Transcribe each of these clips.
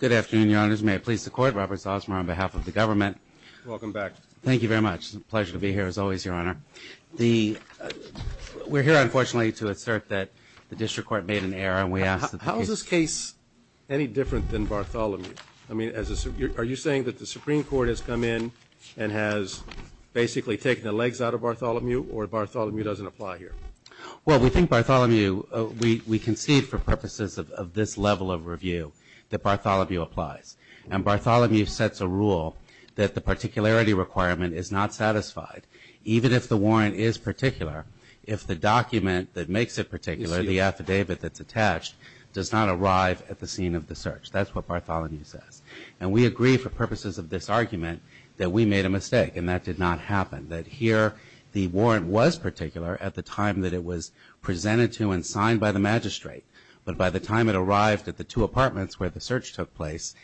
Good afternoon, Your Honors. May it please the Court, Robert Salzmer on behalf of the government. Welcome back. Thank you very much. It's a pleasure to be here as always, Your Honor. We're here, unfortunately, to assert that the District Court made an error and we ask that the case- How is this case any different than Bartholomew? Are you saying that the Supreme Court has come in and has basically taken the legs out of Bartholomew or Bartholomew doesn't apply here? Well, we think Bartholomew, we concede for purposes of this level of review that Bartholomew applies. And Bartholomew sets a rule that the particularity requirement is not satisfied even if the warrant is particular, if the document that makes it particular, the affidavit that's attached, does not arrive at the scene of the search. That's what Bartholomew says. And we agree for purposes of this argument that we made a mistake and that did not happen. That here the warrant was particular at the time that it was presented to and signed by the magistrate. But by the time it arrived at the two apartments where the search took place,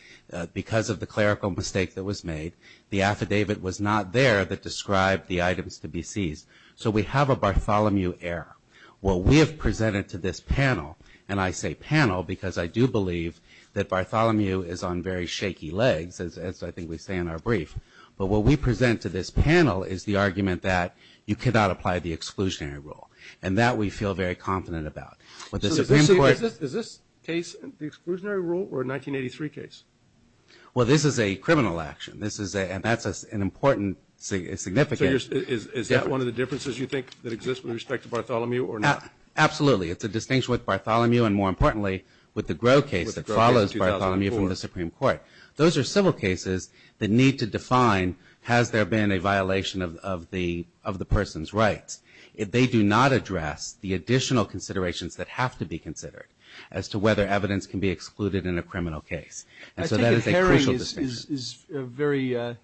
because of the clerical mistake that was made, the affidavit was not there that described the items to be seized. So we have a Bartholomew error. What we have presented to this panel, and I say panel because I do believe that Bartholomew is on very shaky legs, as I think we say in our brief, but what we present to this panel is the argument that you cannot apply the exclusionary rule. And that we feel very confident about. With the Supreme Court... Is this case the exclusionary rule or a 1983 case? Well this is a criminal action. This is a, and that's an important, significant... Is that one of the differences you think that exists with respect to Bartholomew or not? Absolutely. It's a distinction with Bartholomew and more importantly with the Gros case that follows Bartholomew from the Supreme Court. Those are civil cases that need to define has there been a violation of the person's rights. They do not address the additional considerations that have to be considered as to whether evidence can be excluded in a criminal case. And so that is a crucial distinction. I take it Herring is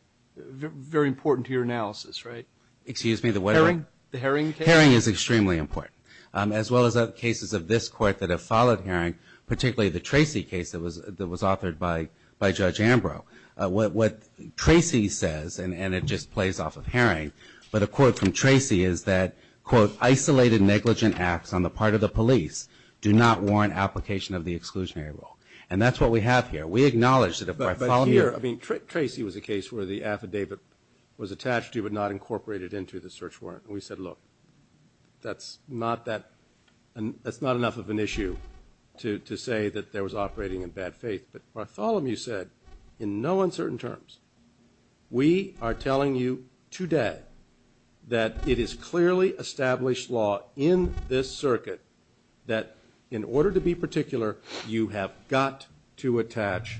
very important to your analysis, right? Excuse me? Herring? The Herring case? Herring is extremely important. As well as other cases of this court that have followed Herring, particularly the Tracy case that was authored by Judge Ambrose. What Tracy says, and it just plays off of Herring, but a quote from Tracy is that, quote, isolated negligent acts on the part of the police do not warrant application of the exclusionary rule. And that's what we have here. We acknowledge that if Bartholomew... But here, I mean, Tracy was a case where the affidavit was attached to but not incorporated into the search warrant. And we said, look, that's not enough of an issue to say that there was operating in bad faith. But Bartholomew said, in no uncertain terms, we are telling you today that it is clearly established law in this circuit that in order to be particular, you have got to attach,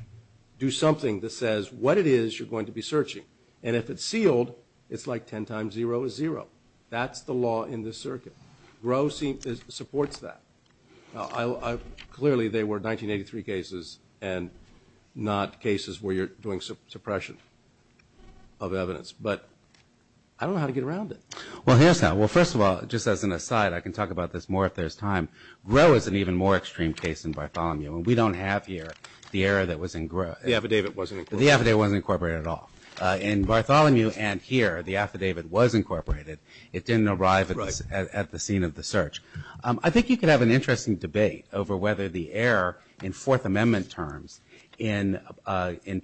do something that says what it is you're going to be searching. And if it's sealed, it's like 10 times zero is zero. That's the law in this circuit. GROH supports that. Now, clearly, they were 1983 cases and not cases where you're doing suppression of evidence. But I don't know how to get around it. Well, here's how. Well, first of all, just as an aside, I can talk about this more if there's time. GROH is an even more extreme case than Bartholomew, and we don't have here the error that was in GROH. The affidavit wasn't incorporated. In Bartholomew and here, the affidavit was incorporated. It didn't arrive at the scene of the search. I think you could have an interesting debate over whether the error in Fourth Amendment terms in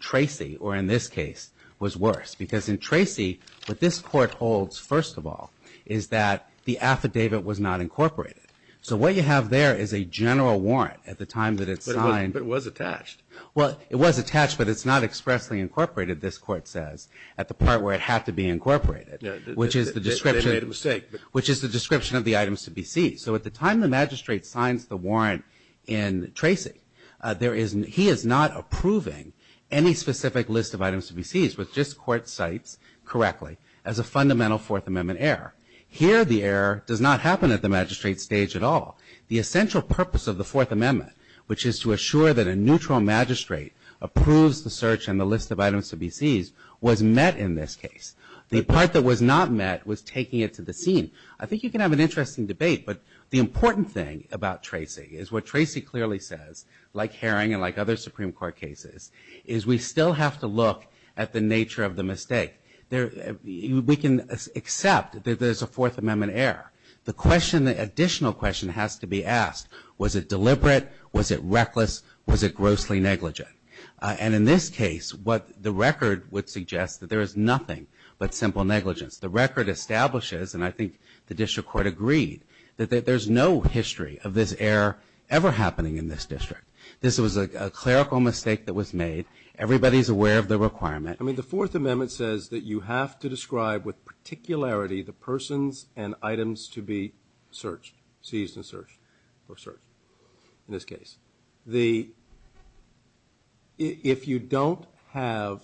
Tracy or in this case was worse. Because in Tracy, what this Court holds, first of all, is that the affidavit was not incorporated. So what you have there is a general warrant at the time that it's signed. But it was attached. Well, it was attached, but it's not expressly incorporated, this Court says, at the part where it had to be incorporated, which is the description of the items to be seized. So at the time the magistrate signs the warrant in Tracy, he is not approving any specific list of items to be seized, which this Court cites correctly as a fundamental Fourth Amendment error. Here, the error does not happen at the magistrate stage at all. The essential purpose of the Fourth Amendment, which is to assure that a neutral magistrate approves the search and the list of items to be seized, was met in this case. The part that was not met was taking it to the scene. I think you can have an interesting debate. But the important thing about Tracy is what Tracy clearly says, like Herring and like other Supreme Court cases, is we still have to look at the nature of the mistake. We can accept that there's a Fourth Amendment error. The question, the additional question has to be asked, was it deliberate, was it reckless, was it grossly negligent? And in this case, what the record would suggest that there is nothing but simple negligence. The record establishes, and I think the district court agreed, that there's no history of this error ever happening in this district. This was a clerical mistake that was made. Everybody's aware of the requirement. I mean, the Fourth Amendment says that you have to describe with particularity the persons and items to be searched, seized and searched, or searched, in this case. If you don't have,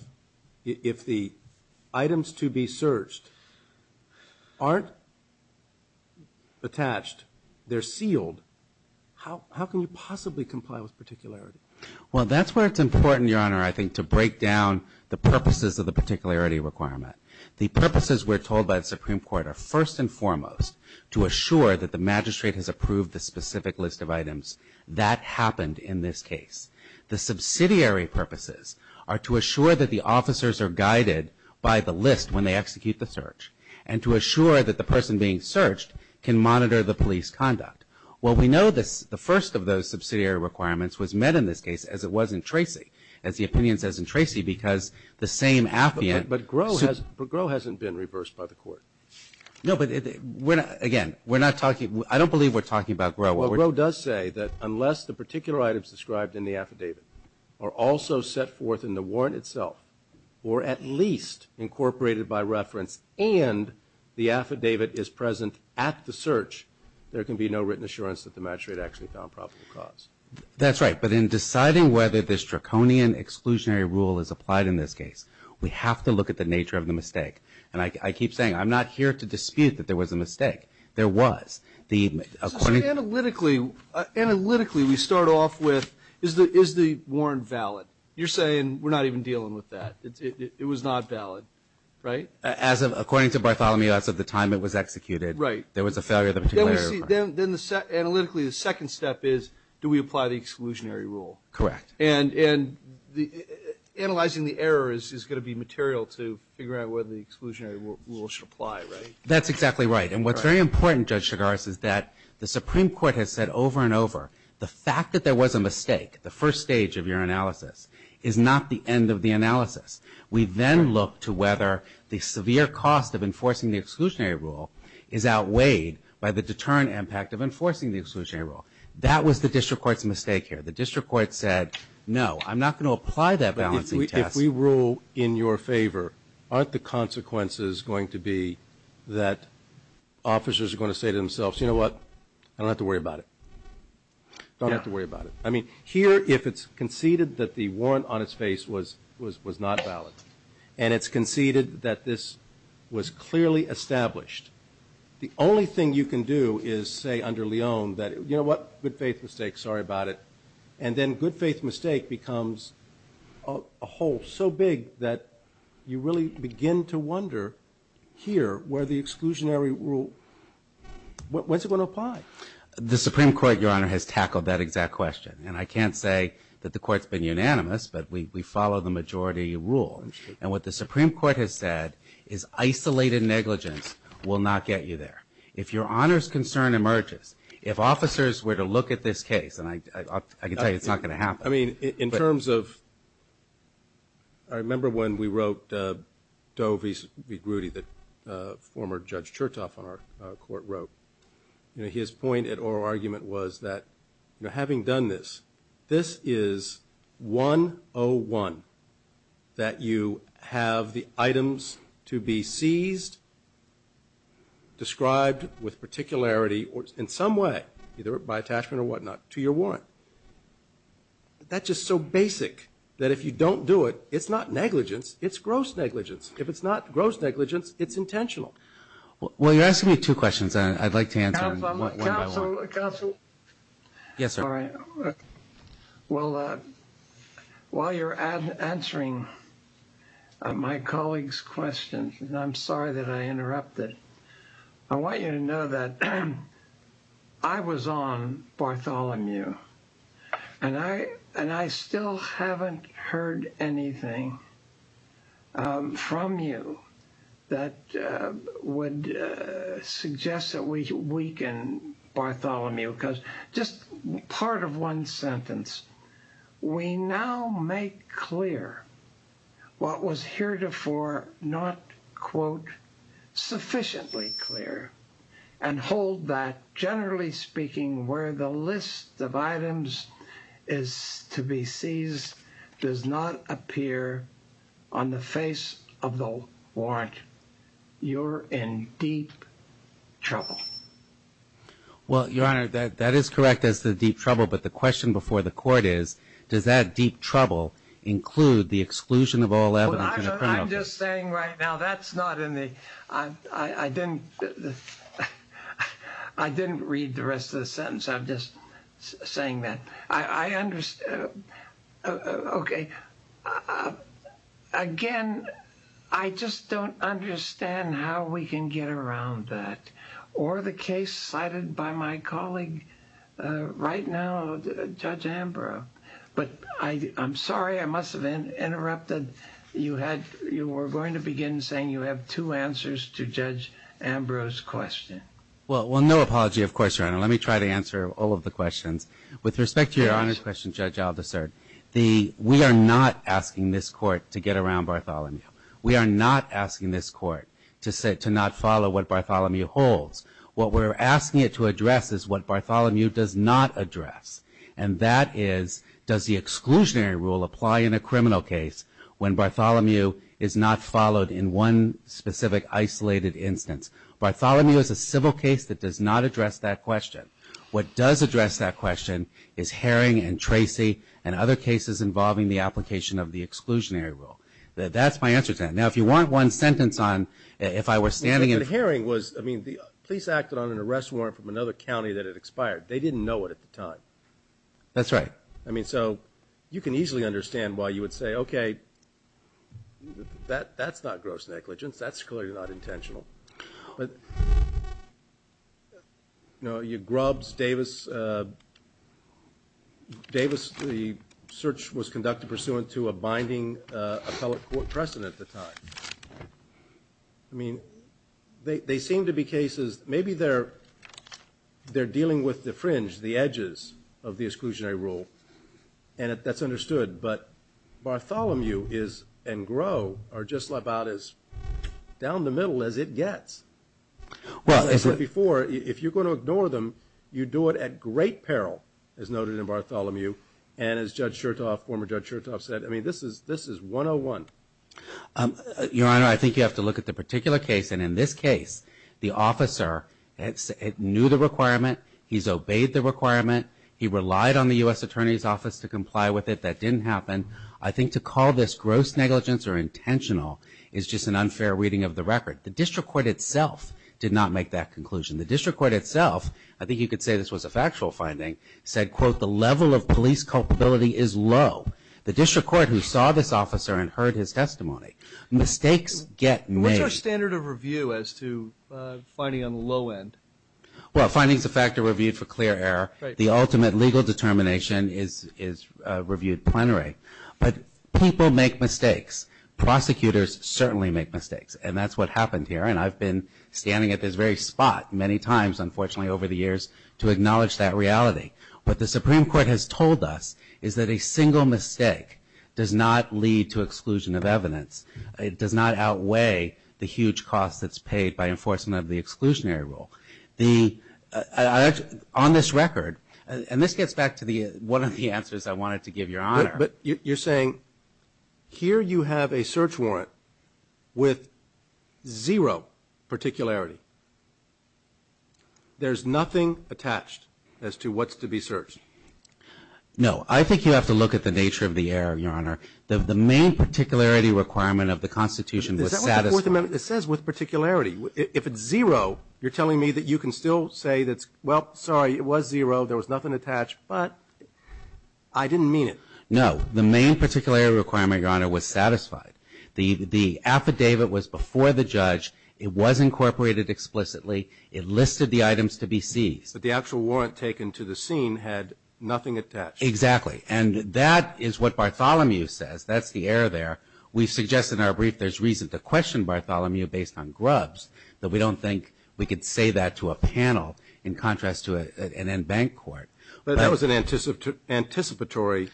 if the items to be searched aren't attached, they're sealed, how can you possibly comply with particularity? Well, that's where it's important, Your Honor, I think, to break down the purposes of the particularity requirement. The purposes, we're told by the Supreme Court, are first and foremost to assure that the magistrate has approved the specific list of items that happened in this case. The subsidiary purposes are to assure that the officers are guided by the list when they execute the search, and to assure that the person being searched can monitor the police conduct. Well, we know the first of those subsidiary requirements was met in this case, as it was in Tracy, as the opinion says in Tracy, because the same affluent... But Groh hasn't been reversed by the court. No, but again, we're not talking, I don't believe we're talking about Groh. Well, Groh does say that unless the particular items described in the affidavit are also set forth in the warrant itself, or at least incorporated by reference, and the affidavit is present at the search, there can be no written assurance that the magistrate actually found probable cause. That's right, but in deciding whether this draconian exclusionary rule is applied in this case, we have to look at the nature of the mistake. And I keep saying, I'm not here to dispute that there was a mistake. There was. The... So analytically, analytically, we start off with, is the warrant valid? You're saying we're not even dealing with that. It was not valid, right? As of, according to Bartholomew, as of the time it was executed, there was a failure of the particular... Right. Then, analytically, the second step is, do we apply the exclusionary rule? Correct. And analyzing the error is going to be material to figure out whether the exclusionary rule should apply, right? That's exactly right. And what's very important, Judge Chigars, is that the Supreme Court has said over and over the fact that there was a mistake, the first stage of your analysis, is not the end of the analysis. We then look to whether the severe cost of enforcing the exclusionary rule is outweighed by the deterrent impact of enforcing the exclusionary rule. That was the district court's mistake here. The district court said, no, I'm not going to apply that balancing test. If we rule in your favor, aren't the consequences going to be that officers are going to say to themselves, you know what? I don't have to worry about it. Yeah. Don't have to worry about it. I mean, here, if it's conceded that the warrant on its face was not valid, and it's conceded that this was clearly established, the only thing you can do is say under Lyon that, you know what? Good faith mistake. Sorry about it. And then good faith mistake becomes a hole so big that you really begin to wonder here where the exclusionary rule, when's it going to apply? The Supreme Court, Your Honor, has tackled that exact question. And I can't say that the Court's been unanimous, but we follow the majority rule. And what the Supreme Court has said is isolated negligence will not get you there. If Your Honor's concern emerges, if officers were to look at this case, and I can tell you it's not going to happen. I mean, in terms of, I remember when we wrote Doe v. Groody that former Judge Chertoff on our court wrote, you know, his point at oral argument was that, you know, having done this, this is 101 that you have the items to be seized, described with particularity or in some way, either by attachment or whatnot, to your warrant. That's just so basic that if you don't do it, it's not negligence, it's gross negligence. If it's not gross negligence, it's intentional. Well, you're asking me two questions, and I'd like to answer them one by one. Counsel, counsel. Yes, sir. Well, while you're answering my colleagues' questions, and I'm sorry that I interrupted, I want you to know that I was on Bartholomew, and I still haven't heard anything from you that would suggest that we weaken Bartholomew. Because just part of one sentence, we now make clear what was heretofore not, quote, sufficiently clear, and hold that, generally speaking, where the list of items is to be on the face of the warrant, you're in deep trouble. Well, Your Honor, that is correct, that's the deep trouble, but the question before the court is, does that deep trouble include the exclusion of O11 from the criminal case? Well, I'm just saying right now, that's not in the, I didn't read the rest of the sentence. I'm just saying that. I understand, okay, again, I just don't understand how we can get around that, or the case cited by my colleague right now, Judge Ambrose. But I'm sorry I must have interrupted. You were going to begin saying you have two answers to Judge Ambrose's question. Well, no apology, of course, Your Honor. Let me try to answer all of the questions. With respect to Your Honor's question, Judge Al-Dassert, we are not asking this court to get around Bartholomew. We are not asking this court to not follow what Bartholomew holds. What we're asking it to address is what Bartholomew does not address, and that is, does the exclusionary rule apply in a criminal case when Bartholomew is not followed in one specific isolated instance? Bartholomew is a civil case that does not address that question. What does address that question is Herring and Tracy and other cases involving the application of the exclusionary rule. That's my answer to that. Now, if you want one sentence on if I were standing in front of you. But Herring was, I mean, the police acted on an arrest warrant from another county that had expired. They didn't know it at the time. That's right. I mean, so you can easily understand why you would say, okay, that's not gross negligence. That's clearly not intentional. But, you know, Grubbs, Davis, Davis, the search was conducted pursuant to a binding appellate court precedent at the time. I mean, they seem to be cases, maybe they're dealing with the fringe, the edges, of the exclusionary rule, and that's understood. But Bartholomew and Groh are just about as down the middle as it gets. Well, as I said before, if you're going to ignore them, you do it at great peril, as noted in Bartholomew. And as Judge Chertoff, former Judge Chertoff, said, I mean, this is 101. Your Honor, I think you have to look at the particular case. And in this case, the officer knew the requirement. He's obeyed the requirement. He relied on the U.S. Attorney's Office to comply with it. That didn't happen. I think to call this gross negligence or intentional is just an unfair reading of the record. The district court itself did not make that conclusion. The district court itself, I think you could say this was a factual finding, said, quote, the level of police culpability is low. The district court who saw this officer and heard his testimony. Mistakes get made. What's our standard of review as to finding on the low end? Well, finding is a factor reviewed for clear error. The ultimate legal determination is reviewed plenary. But people make mistakes. Prosecutors certainly make mistakes. And that's what happened here. And I've been standing at this very spot many times, unfortunately, over the years to acknowledge that reality. What the Supreme Court has told us is that a single mistake does not lead to exclusion of evidence. It does not outweigh the huge cost that's paid by enforcement of the exclusionary rule. On this record, and this gets back to one of the answers I wanted to give Your Honor. But you're saying here you have a search warrant with zero particularity. There's nothing attached as to what's to be searched. No. I think you have to look at the nature of the error, Your Honor. The main particularity requirement of the Constitution was satisfied. Is that what the Fourth Amendment says, with particularity? If it's zero, you're telling me that you can still say that, well, sorry, it was zero, there was nothing attached, but I didn't mean it. No. The main particularity requirement, Your Honor, was satisfied. The affidavit was before the judge. It was incorporated explicitly. It listed the items to be seized. But the actual warrant taken to the scene had nothing attached. Exactly. And that is what Bartholomew says. That's the error there. We suggest in our brief there's reason to question Bartholomew based on Grubbs. But we don't think we could say that to a panel in contrast to an in-bank court. But that was an anticipatory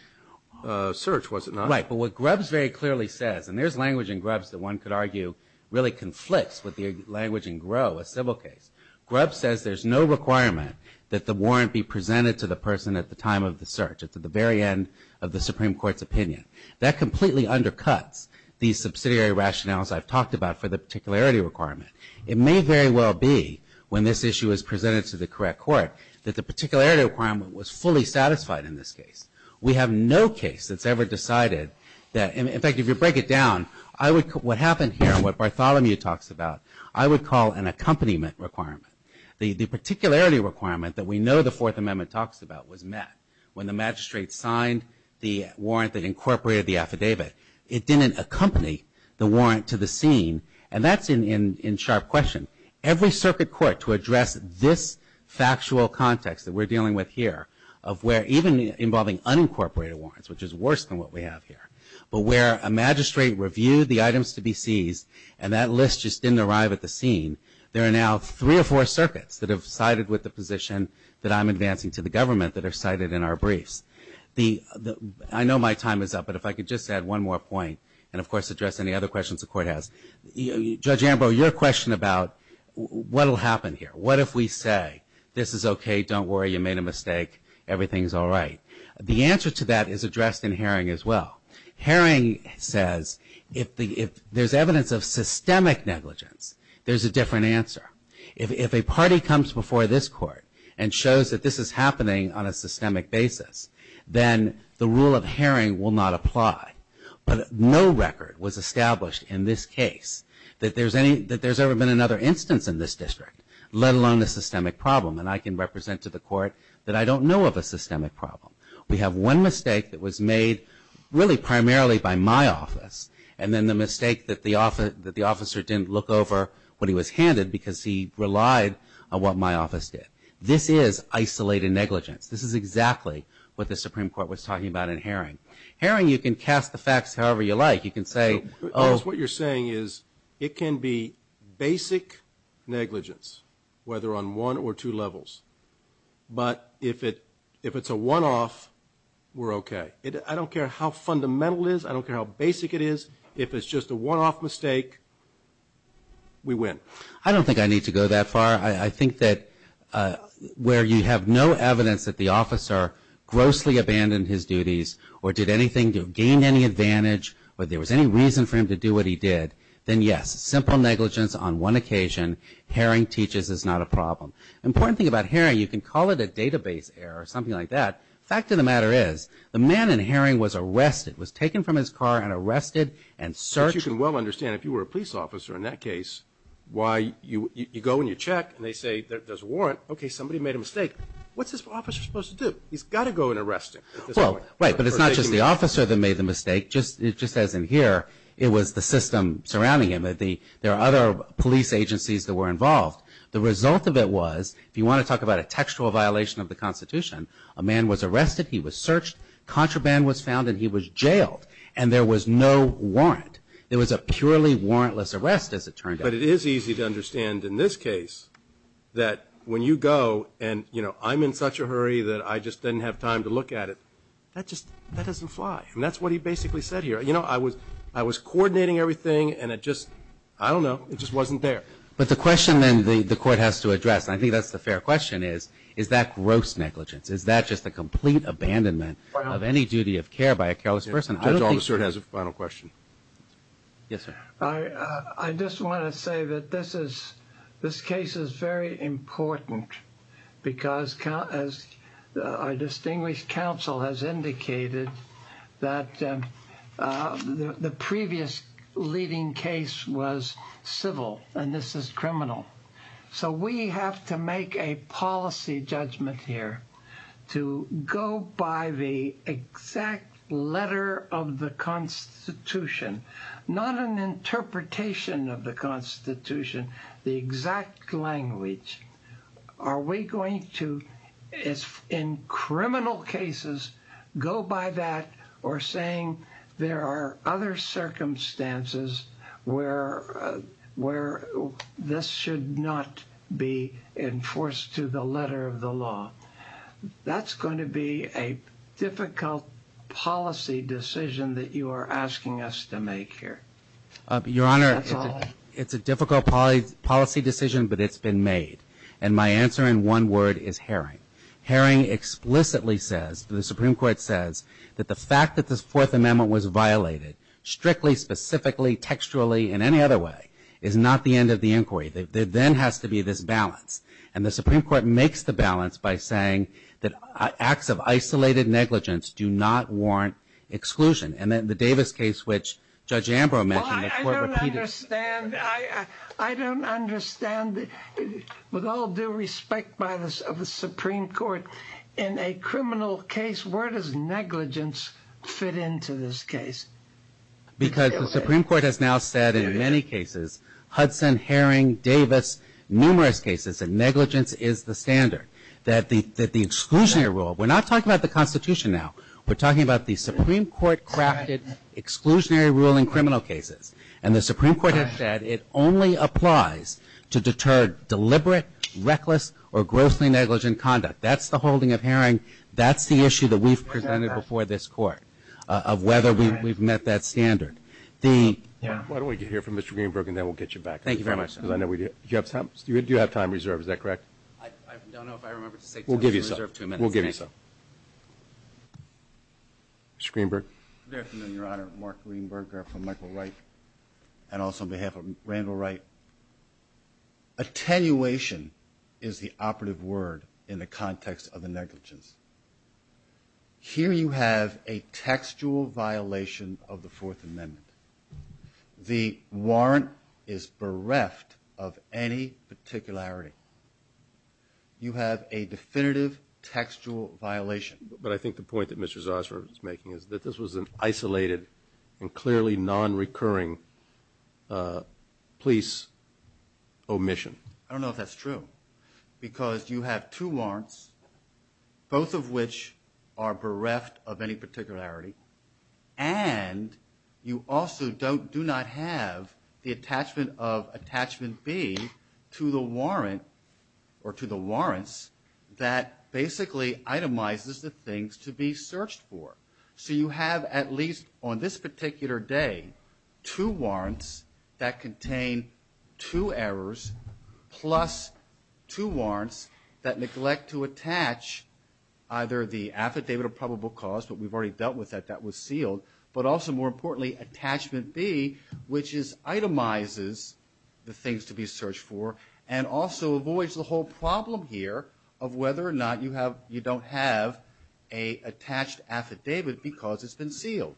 search, was it not? Right. But what Grubbs very clearly says, and there's language in Grubbs that one could argue really conflicts with the language in Groh, a civil case. Grubbs says there's no requirement that the warrant be presented to the person at the time of the search, at the very end of the Supreme Court's opinion. That completely undercuts the subsidiary rationales I've talked about for the particularity requirement. It may very well be when this issue is presented to the correct court that the particularity requirement was fully satisfied in this case. We have no case that's ever decided that. In fact, if you break it down, what happened here and what Bartholomew talks about, I would call an accompaniment requirement. The particularity requirement that we know the Fourth Amendment talks about was met. When the magistrate signed the warrant that incorporated the affidavit, it didn't accompany the warrant to the scene. And that's in sharp question. Every circuit court to address this factual context that we're dealing with here, of where even involving unincorporated warrants, which is worse than what we have here, but where a magistrate reviewed the items to be seized and that list just didn't arrive at the scene, there are now three or four circuits that have sided with the position that I'm advancing to the government that are cited in our briefs. I know my time is up, but if I could just add one more point, and of course address any other questions the Court has. Judge Ambrose, your question about what will happen here. What if we say this is okay, don't worry, you made a mistake, everything is all right. The answer to that is addressed in Haring as well. Haring says if there's evidence of systemic negligence, there's a different answer. If a party comes before this Court and shows that this is happening on a systemic basis, then the rule of Haring will not apply. But no record was established in this case that there's ever been another instance in this district, let alone a systemic problem. And I can represent to the Court that I don't know of a systemic problem. We have one mistake that was made really primarily by my office, and then the mistake that the officer didn't look over what he was handed because he relied on what my office did. This is isolated negligence. This is exactly what the Supreme Court was talking about in Haring. Haring, you can cast the facts however you like. You can say, oh. What you're saying is it can be basic negligence, whether on one or two levels. But if it's a one-off, we're okay. I don't care how fundamental it is. I don't care how basic it is. If it's just a one-off mistake, we win. I don't think I need to go that far. I think that where you have no evidence that the officer grossly abandoned his duties or did anything, gained any advantage, or there was any reason for him to do what he did, then, yes, simple negligence on one occasion, Haring teaches, is not a problem. The important thing about Haring, you can call it a database error or something like that. The fact of the matter is the man in Haring was arrested, was taken from his car and arrested and searched. But you can well understand, if you were a police officer in that case, why you go and you check and they say there's a warrant, okay, somebody made a mistake. What's this officer supposed to do? He's got to go and arrest him. Well, right, but it's not just the officer that made the mistake. Just as in here, it was the system surrounding him. There are other police agencies that were involved. The result of it was, if you want to talk about a textual violation of the Constitution, a man was arrested, he was searched, contraband was found, and he was jailed, and there was no warrant. There was a purely warrantless arrest, as it turned out. But it is easy to understand in this case that when you go and, you know, I'm in such a hurry that I just didn't have time to look at it, that just doesn't fly. And that's what he basically said here. You know, I was coordinating everything and it just, I don't know, it just wasn't there. But the question then the court has to address, and I think that's the fair question, is, is that gross negligence? Is that just a complete abandonment of any duty of care by a careless person? Judge Almasert has a final question. Yes, sir. I just want to say that this case is very important because, as our distinguished counsel has indicated, that the previous leading case was civil and this is criminal. So we have to make a policy judgment here to go by the exact letter of the Constitution, not an interpretation of the Constitution, the exact language. Are we going to, in criminal cases, go by that or saying there are other circumstances where this should not be enforced to the letter of the law? That's going to be a difficult policy decision that you are asking us to make here. Your Honor, it's a difficult policy decision, but it's been made. And my answer in one word is herring. Herring explicitly says, the Supreme Court says, that the fact that this Fourth Amendment was violated, strictly, specifically, textually, and any other way, is not the end of the inquiry. There then has to be this balance. And the Supreme Court makes the balance by saying that acts of isolated negligence do not warrant exclusion. And then the Davis case, which Judge Ambrose mentioned, the court repeated. Well, I don't understand. I don't understand. With all due respect of the Supreme Court, in a criminal case, where does negligence fit into this case? Because the Supreme Court has now said in many cases, Hudson, Herring, Davis, numerous cases, that negligence is the standard, that the exclusionary rule. We're not talking about the Constitution now. We're talking about the Supreme Court-crafted exclusionary rule in criminal cases. And the Supreme Court has said it only applies to deter deliberate, reckless, or grossly negligent conduct. That's the holding of Herring. That's the issue that we've presented before this Court, of whether we've met that standard. Why don't we hear from Mr. Greenberg, and then we'll get you back to me. Thank you very much, Your Honor. Do you have time reserved? Is that correct? I don't know if I remember to say time reserved. We'll give you some. We'll give you some. Mr. Greenberg. Good afternoon, Your Honor. Mark Greenberg, here from Michael Wright, and also on behalf of Randall Wright. Attenuation is the operative word in the context of the negligence. Here you have a textual violation of the Fourth Amendment. The warrant is bereft of any particularity. You have a definitive textual violation. But I think the point that Mr. Zosmar is making is that this was an isolated and clearly nonrecurring police omission. I don't know if that's true, because you have two warrants, both of which are bereft of any particularity, and you also do not have the attachment of Attachment B to the warrant or to the warrants that basically itemizes the things to be searched for. So you have at least on this particular day two warrants that contain two errors plus two warrants that neglect to attach either the affidavit of probable cause, but we've already dealt with that, that was sealed, but also more importantly, Attachment B, which itemizes the things to be searched for and also avoids the whole problem here of whether or not you don't have an attached affidavit because it's been sealed.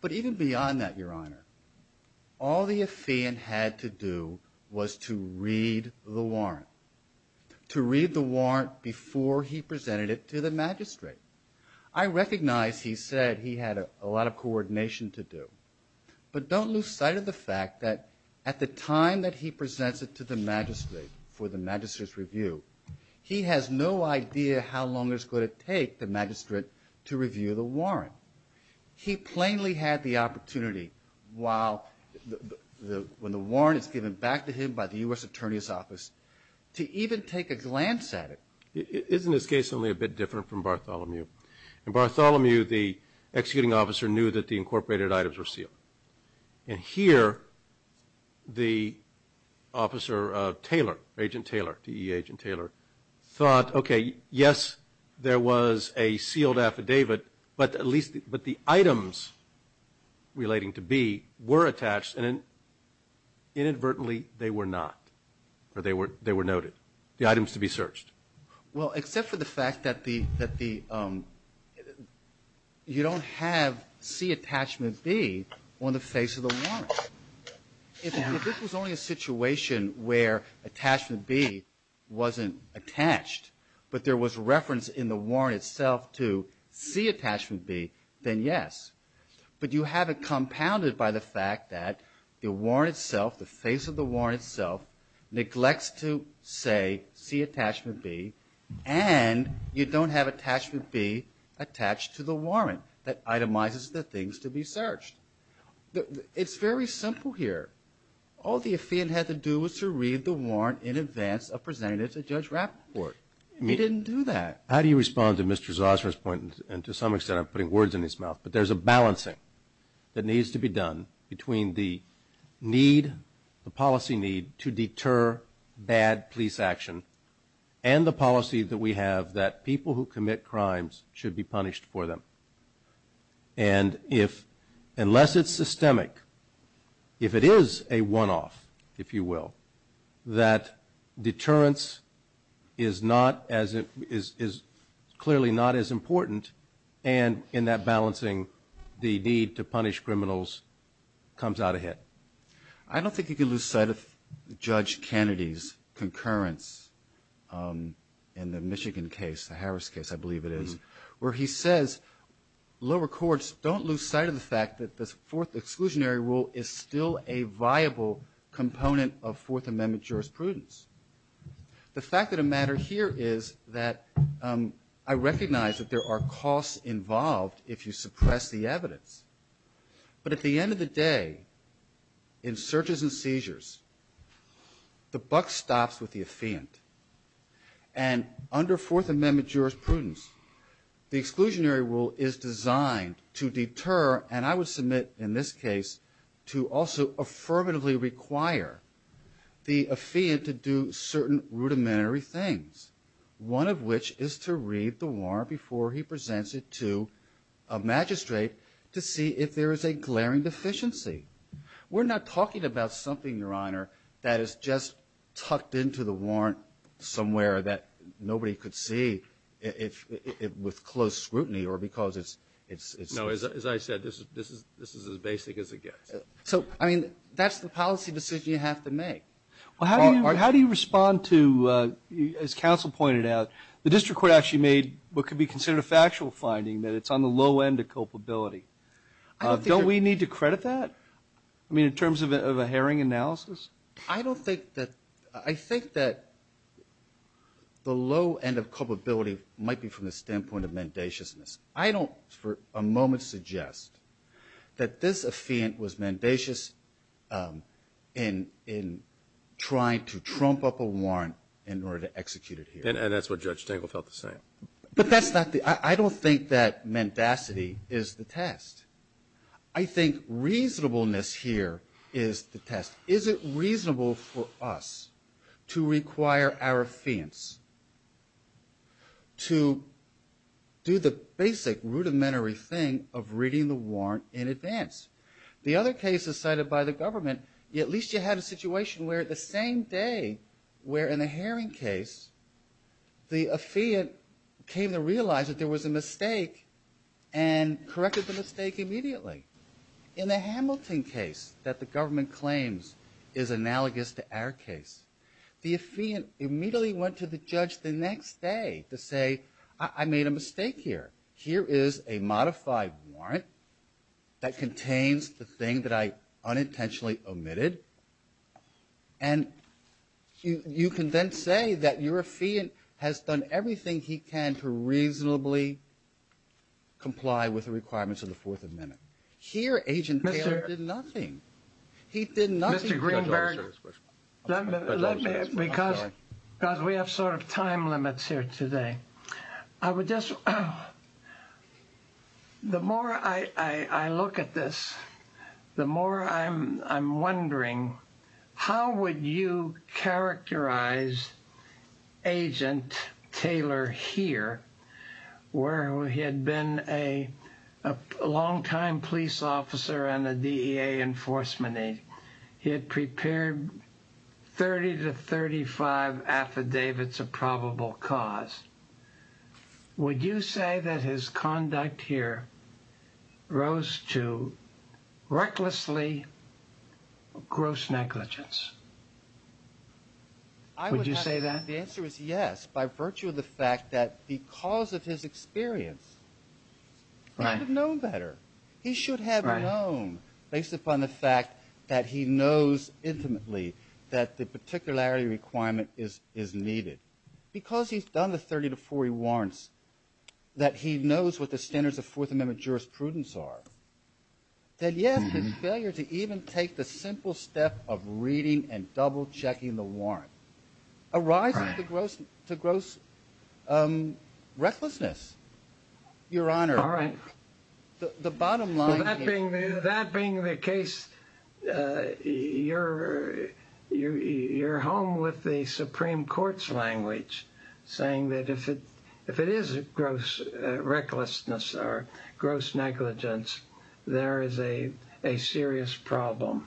But even beyond that, Your Honor, all the affiant had to do was to read the warrant, to read the warrant before he presented it to the magistrate. I recognize he said he had a lot of coordination to do, but don't lose sight of the fact that at the time that he presents it to the magistrate for the magistrate's review, he has no idea how long it's going to take the magistrate to review the warrant. He plainly had the opportunity when the warrant is given back to him by the U.S. Attorney's Office to even take a glance at it. Isn't this case only a bit different from Bartholomew? In Bartholomew, the executing officer knew that the incorporated items were sealed. And here, the officer, Taylor, Agent Taylor, T.E.Agent Taylor, thought, okay, yes, there was a sealed affidavit, but the items relating to B were attached and inadvertently they were not, or they were noted, the items to be searched. Well, except for the fact that the you don't have C, attachment B, on the face of the warrant. If this was only a situation where attachment B wasn't attached, but there was reference in the warrant itself to C, attachment B, then yes. But you have it compounded by the fact that the warrant itself, the face of the warrant itself, neglects to say C, attachment B, and you don't have attachment B attached to the warrant that itemizes the things to be searched. It's very simple here. All the affidavit had to do was to read the warrant in advance of presenting it to Judge Rappaport. He didn't do that. How do you respond to Mr. Zossmer's point, and to some extent I'm putting words in his mouth, but there's a balancing that needs to be done between the need, the policy need to deter bad police action, and the policy that we have that people who commit crimes should be punished for them. And unless it's systemic, if it is a one-off, if you will, that deterrence is clearly not as important, and in that balancing the need to punish criminals comes out ahead. I don't think you can lose sight of Judge Kennedy's concurrence in the Michigan case, the Harris case, I believe it is, where he says lower courts don't lose sight of the fact that this Fourth Exclusionary Rule is still a viable component of Fourth Amendment jurisprudence. The fact of the matter here is that I recognize that there are costs involved if you suppress the evidence. But at the end of the day, in searches and seizures, the buck stops with the affiant. And under Fourth Amendment jurisprudence, the exclusionary rule is designed to deter, and I would submit in this case, to also affirmatively require the affiant to do certain rudimentary things, one of which is to read the warrant before he presents it to a magistrate to see if there is a glaring deficiency. We're not talking about something, Your Honor, that is just tucked into the warrant somewhere that nobody could see with close scrutiny or because it's ---- No, as I said, this is as basic as it gets. So, I mean, that's the policy decision you have to make. Well, how do you respond to, as counsel pointed out, the district court actually made what could be considered a factual finding, that it's on the low end of culpability. Don't we need to credit that? I mean, in terms of a Herring analysis? I don't think that the low end of culpability might be from the standpoint of mendaciousness. I don't for a moment suggest that this affiant was mendacious in trying to trump up a warrant in order to execute it here. And that's what Judge Tangle felt the same. But that's not the ---- I don't think that mendacity is the test. Is it reasonable for us to require our affiants to do the basic rudimentary thing of reading the warrant in advance? The other cases cited by the government, at least you have a situation where the same day, where in the Herring case the affiant came to realize that there was a mistake and corrected the mistake immediately. In the Hamilton case that the government claims is analogous to our case, the affiant immediately went to the judge the next day to say, I made a mistake here. Here is a modified warrant that contains the thing that I unintentionally omitted. And you can then say that your affiant has done everything he can to correct the mistake. Here, Agent Taylor did nothing. He did nothing. Mr. Greenberg, let me, because we have sort of time limits here today. I would just, the more I look at this, the more I'm wondering, how would you characterize Agent Taylor here, where he had been a longtime police officer and a DEA enforcement aide? He had prepared 30 to 35 affidavits of probable cause. Would you say that his conduct here rose to recklessly gross negligence? Would you say that? The answer is yes, by virtue of the fact that because of his experience, he would have known better. He should have known based upon the fact that he knows intimately that the particularity requirement is needed. Because he's done the 30 to 40 warrants, that he knows what the standards of Fourth Amendment jurisprudence are, that yes, his failure to even take the simple step of reading and double checking the warrant arises to gross recklessness, Your Honor. All right. The bottom line here. That being the case, you're home with the Supreme Court's language, saying that if it is gross recklessness or gross negligence, there is a serious problem.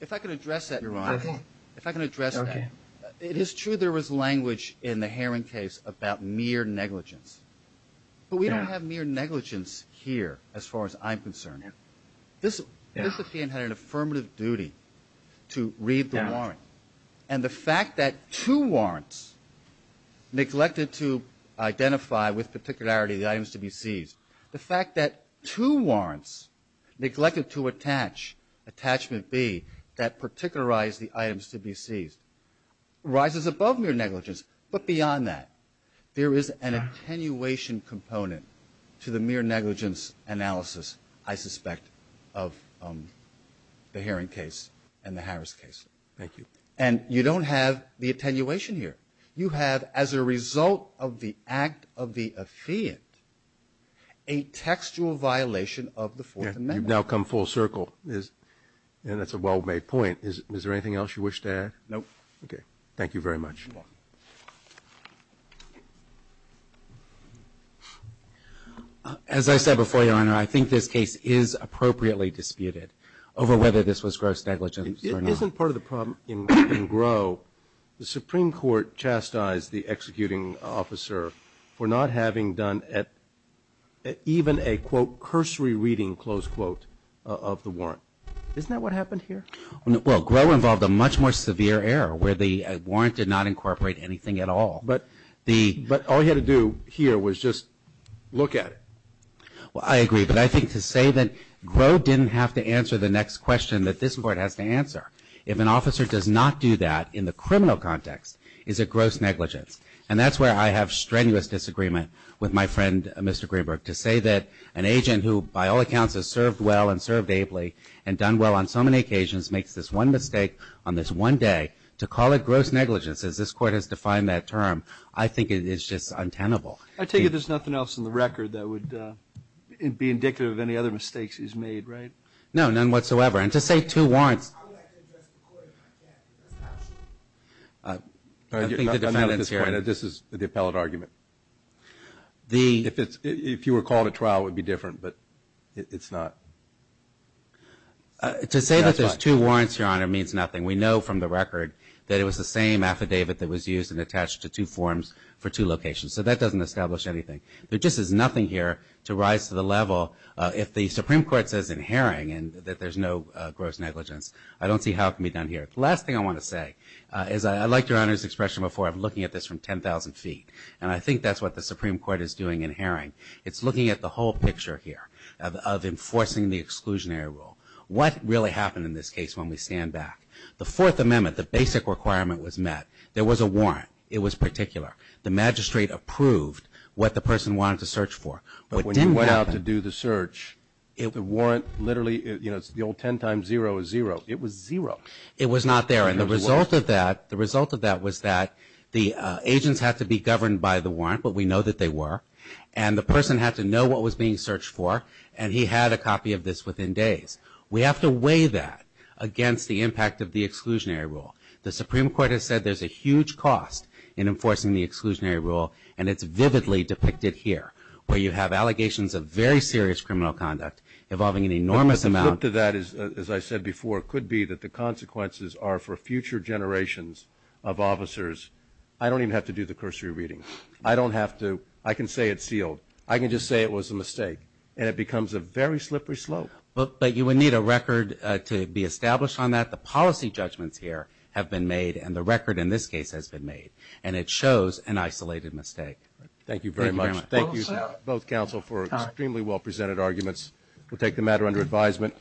If I can address that, Your Honor. Okay. If I can address that. Okay. It is true there was language in the Heron case about mere negligence. But we don't have mere negligence here as far as I'm concerned. This defendant had an affirmative duty to read the warrant. And the fact that two warrants neglected to identify with particularity the items to be seized, the fact that two warrants neglected to attach, attachment B, that particularize the items to be seized, rises above mere negligence. But beyond that, there is an attenuation component to the mere negligence analysis, I suspect, of the Heron case and the Harris case. Thank you. And you don't have the attenuation here. You have, as a result of the act of the affiant, a textual violation of the Fourth Amendment. You've now come full circle. And that's a well-made point. Is there anything else you wish to add? No. Okay. Thank you very much. You're welcome. As I said before, Your Honor, I think this case is appropriately disputed over whether this was gross negligence or not. Isn't part of the problem in Groh, the Supreme Court chastised the executing officer for not having done even a, quote, cursory reading, close quote, of the warrant. Isn't that what happened here? Well, Groh involved a much more severe error, where the warrant did not incorporate anything at all. But all he had to do here was just look at it. Well, I agree. But I think to say that Groh didn't have to answer the next question that this Court has to answer, if an officer does not do that in the criminal context, is a gross negligence. And that's where I have strenuous disagreement with my friend, Mr. Greenberg. To say that an agent who, by all accounts, has served well and served ably and done well on so many occasions makes this one mistake on this one day, to call it gross negligence, as this Court has defined that term, I think it is just untenable. I take it there's nothing else in the record that would be indicative of any other mistakes he's made, right? No, none whatsoever. And to say two warrants. I would like to address the Court if I can. I think the defendants here. This is the appellate argument. If you were called at trial, it would be different, but it's not. To say that there's two warrants, Your Honor, means nothing. We know from the record that it was the same affidavit that was used and attached to two forms for two locations. There just is nothing here to rise to the level, if the Supreme Court says in Herring that there's no gross negligence, I don't see how it can be done here. The last thing I want to say is I liked Your Honor's expression before. I'm looking at this from 10,000 feet, and I think that's what the Supreme Court is doing in Herring. It's looking at the whole picture here of enforcing the exclusionary rule. What really happened in this case when we stand back? The Fourth Amendment, the basic requirement was met. There was a warrant. It was particular. The magistrate approved what the person wanted to search for. But when you went out to do the search, the warrant literally, the old 10 times zero is zero. It was zero. It was not there, and the result of that was that the agents had to be governed by the warrant, but we know that they were, and the person had to know what was being searched for, and he had a copy of this within days. We have to weigh that against the impact of the exclusionary rule. The Supreme Court has said there's a huge cost in enforcing the exclusionary rule, and it's vividly depicted here where you have allegations of very serious criminal conduct involving an enormous amount. But the flip to that, as I said before, could be that the consequences are for future generations of officers. I don't even have to do the cursory reading. I don't have to. I can say it's sealed. I can just say it was a mistake, and it becomes a very slippery slope. But you would need a record to be established on that. The policy judgments here have been made, and the record in this case has been made, and it shows an isolated mistake. Thank you very much. Thank you both counsel for extremely well-presented arguments. We'll take the matter under advisement.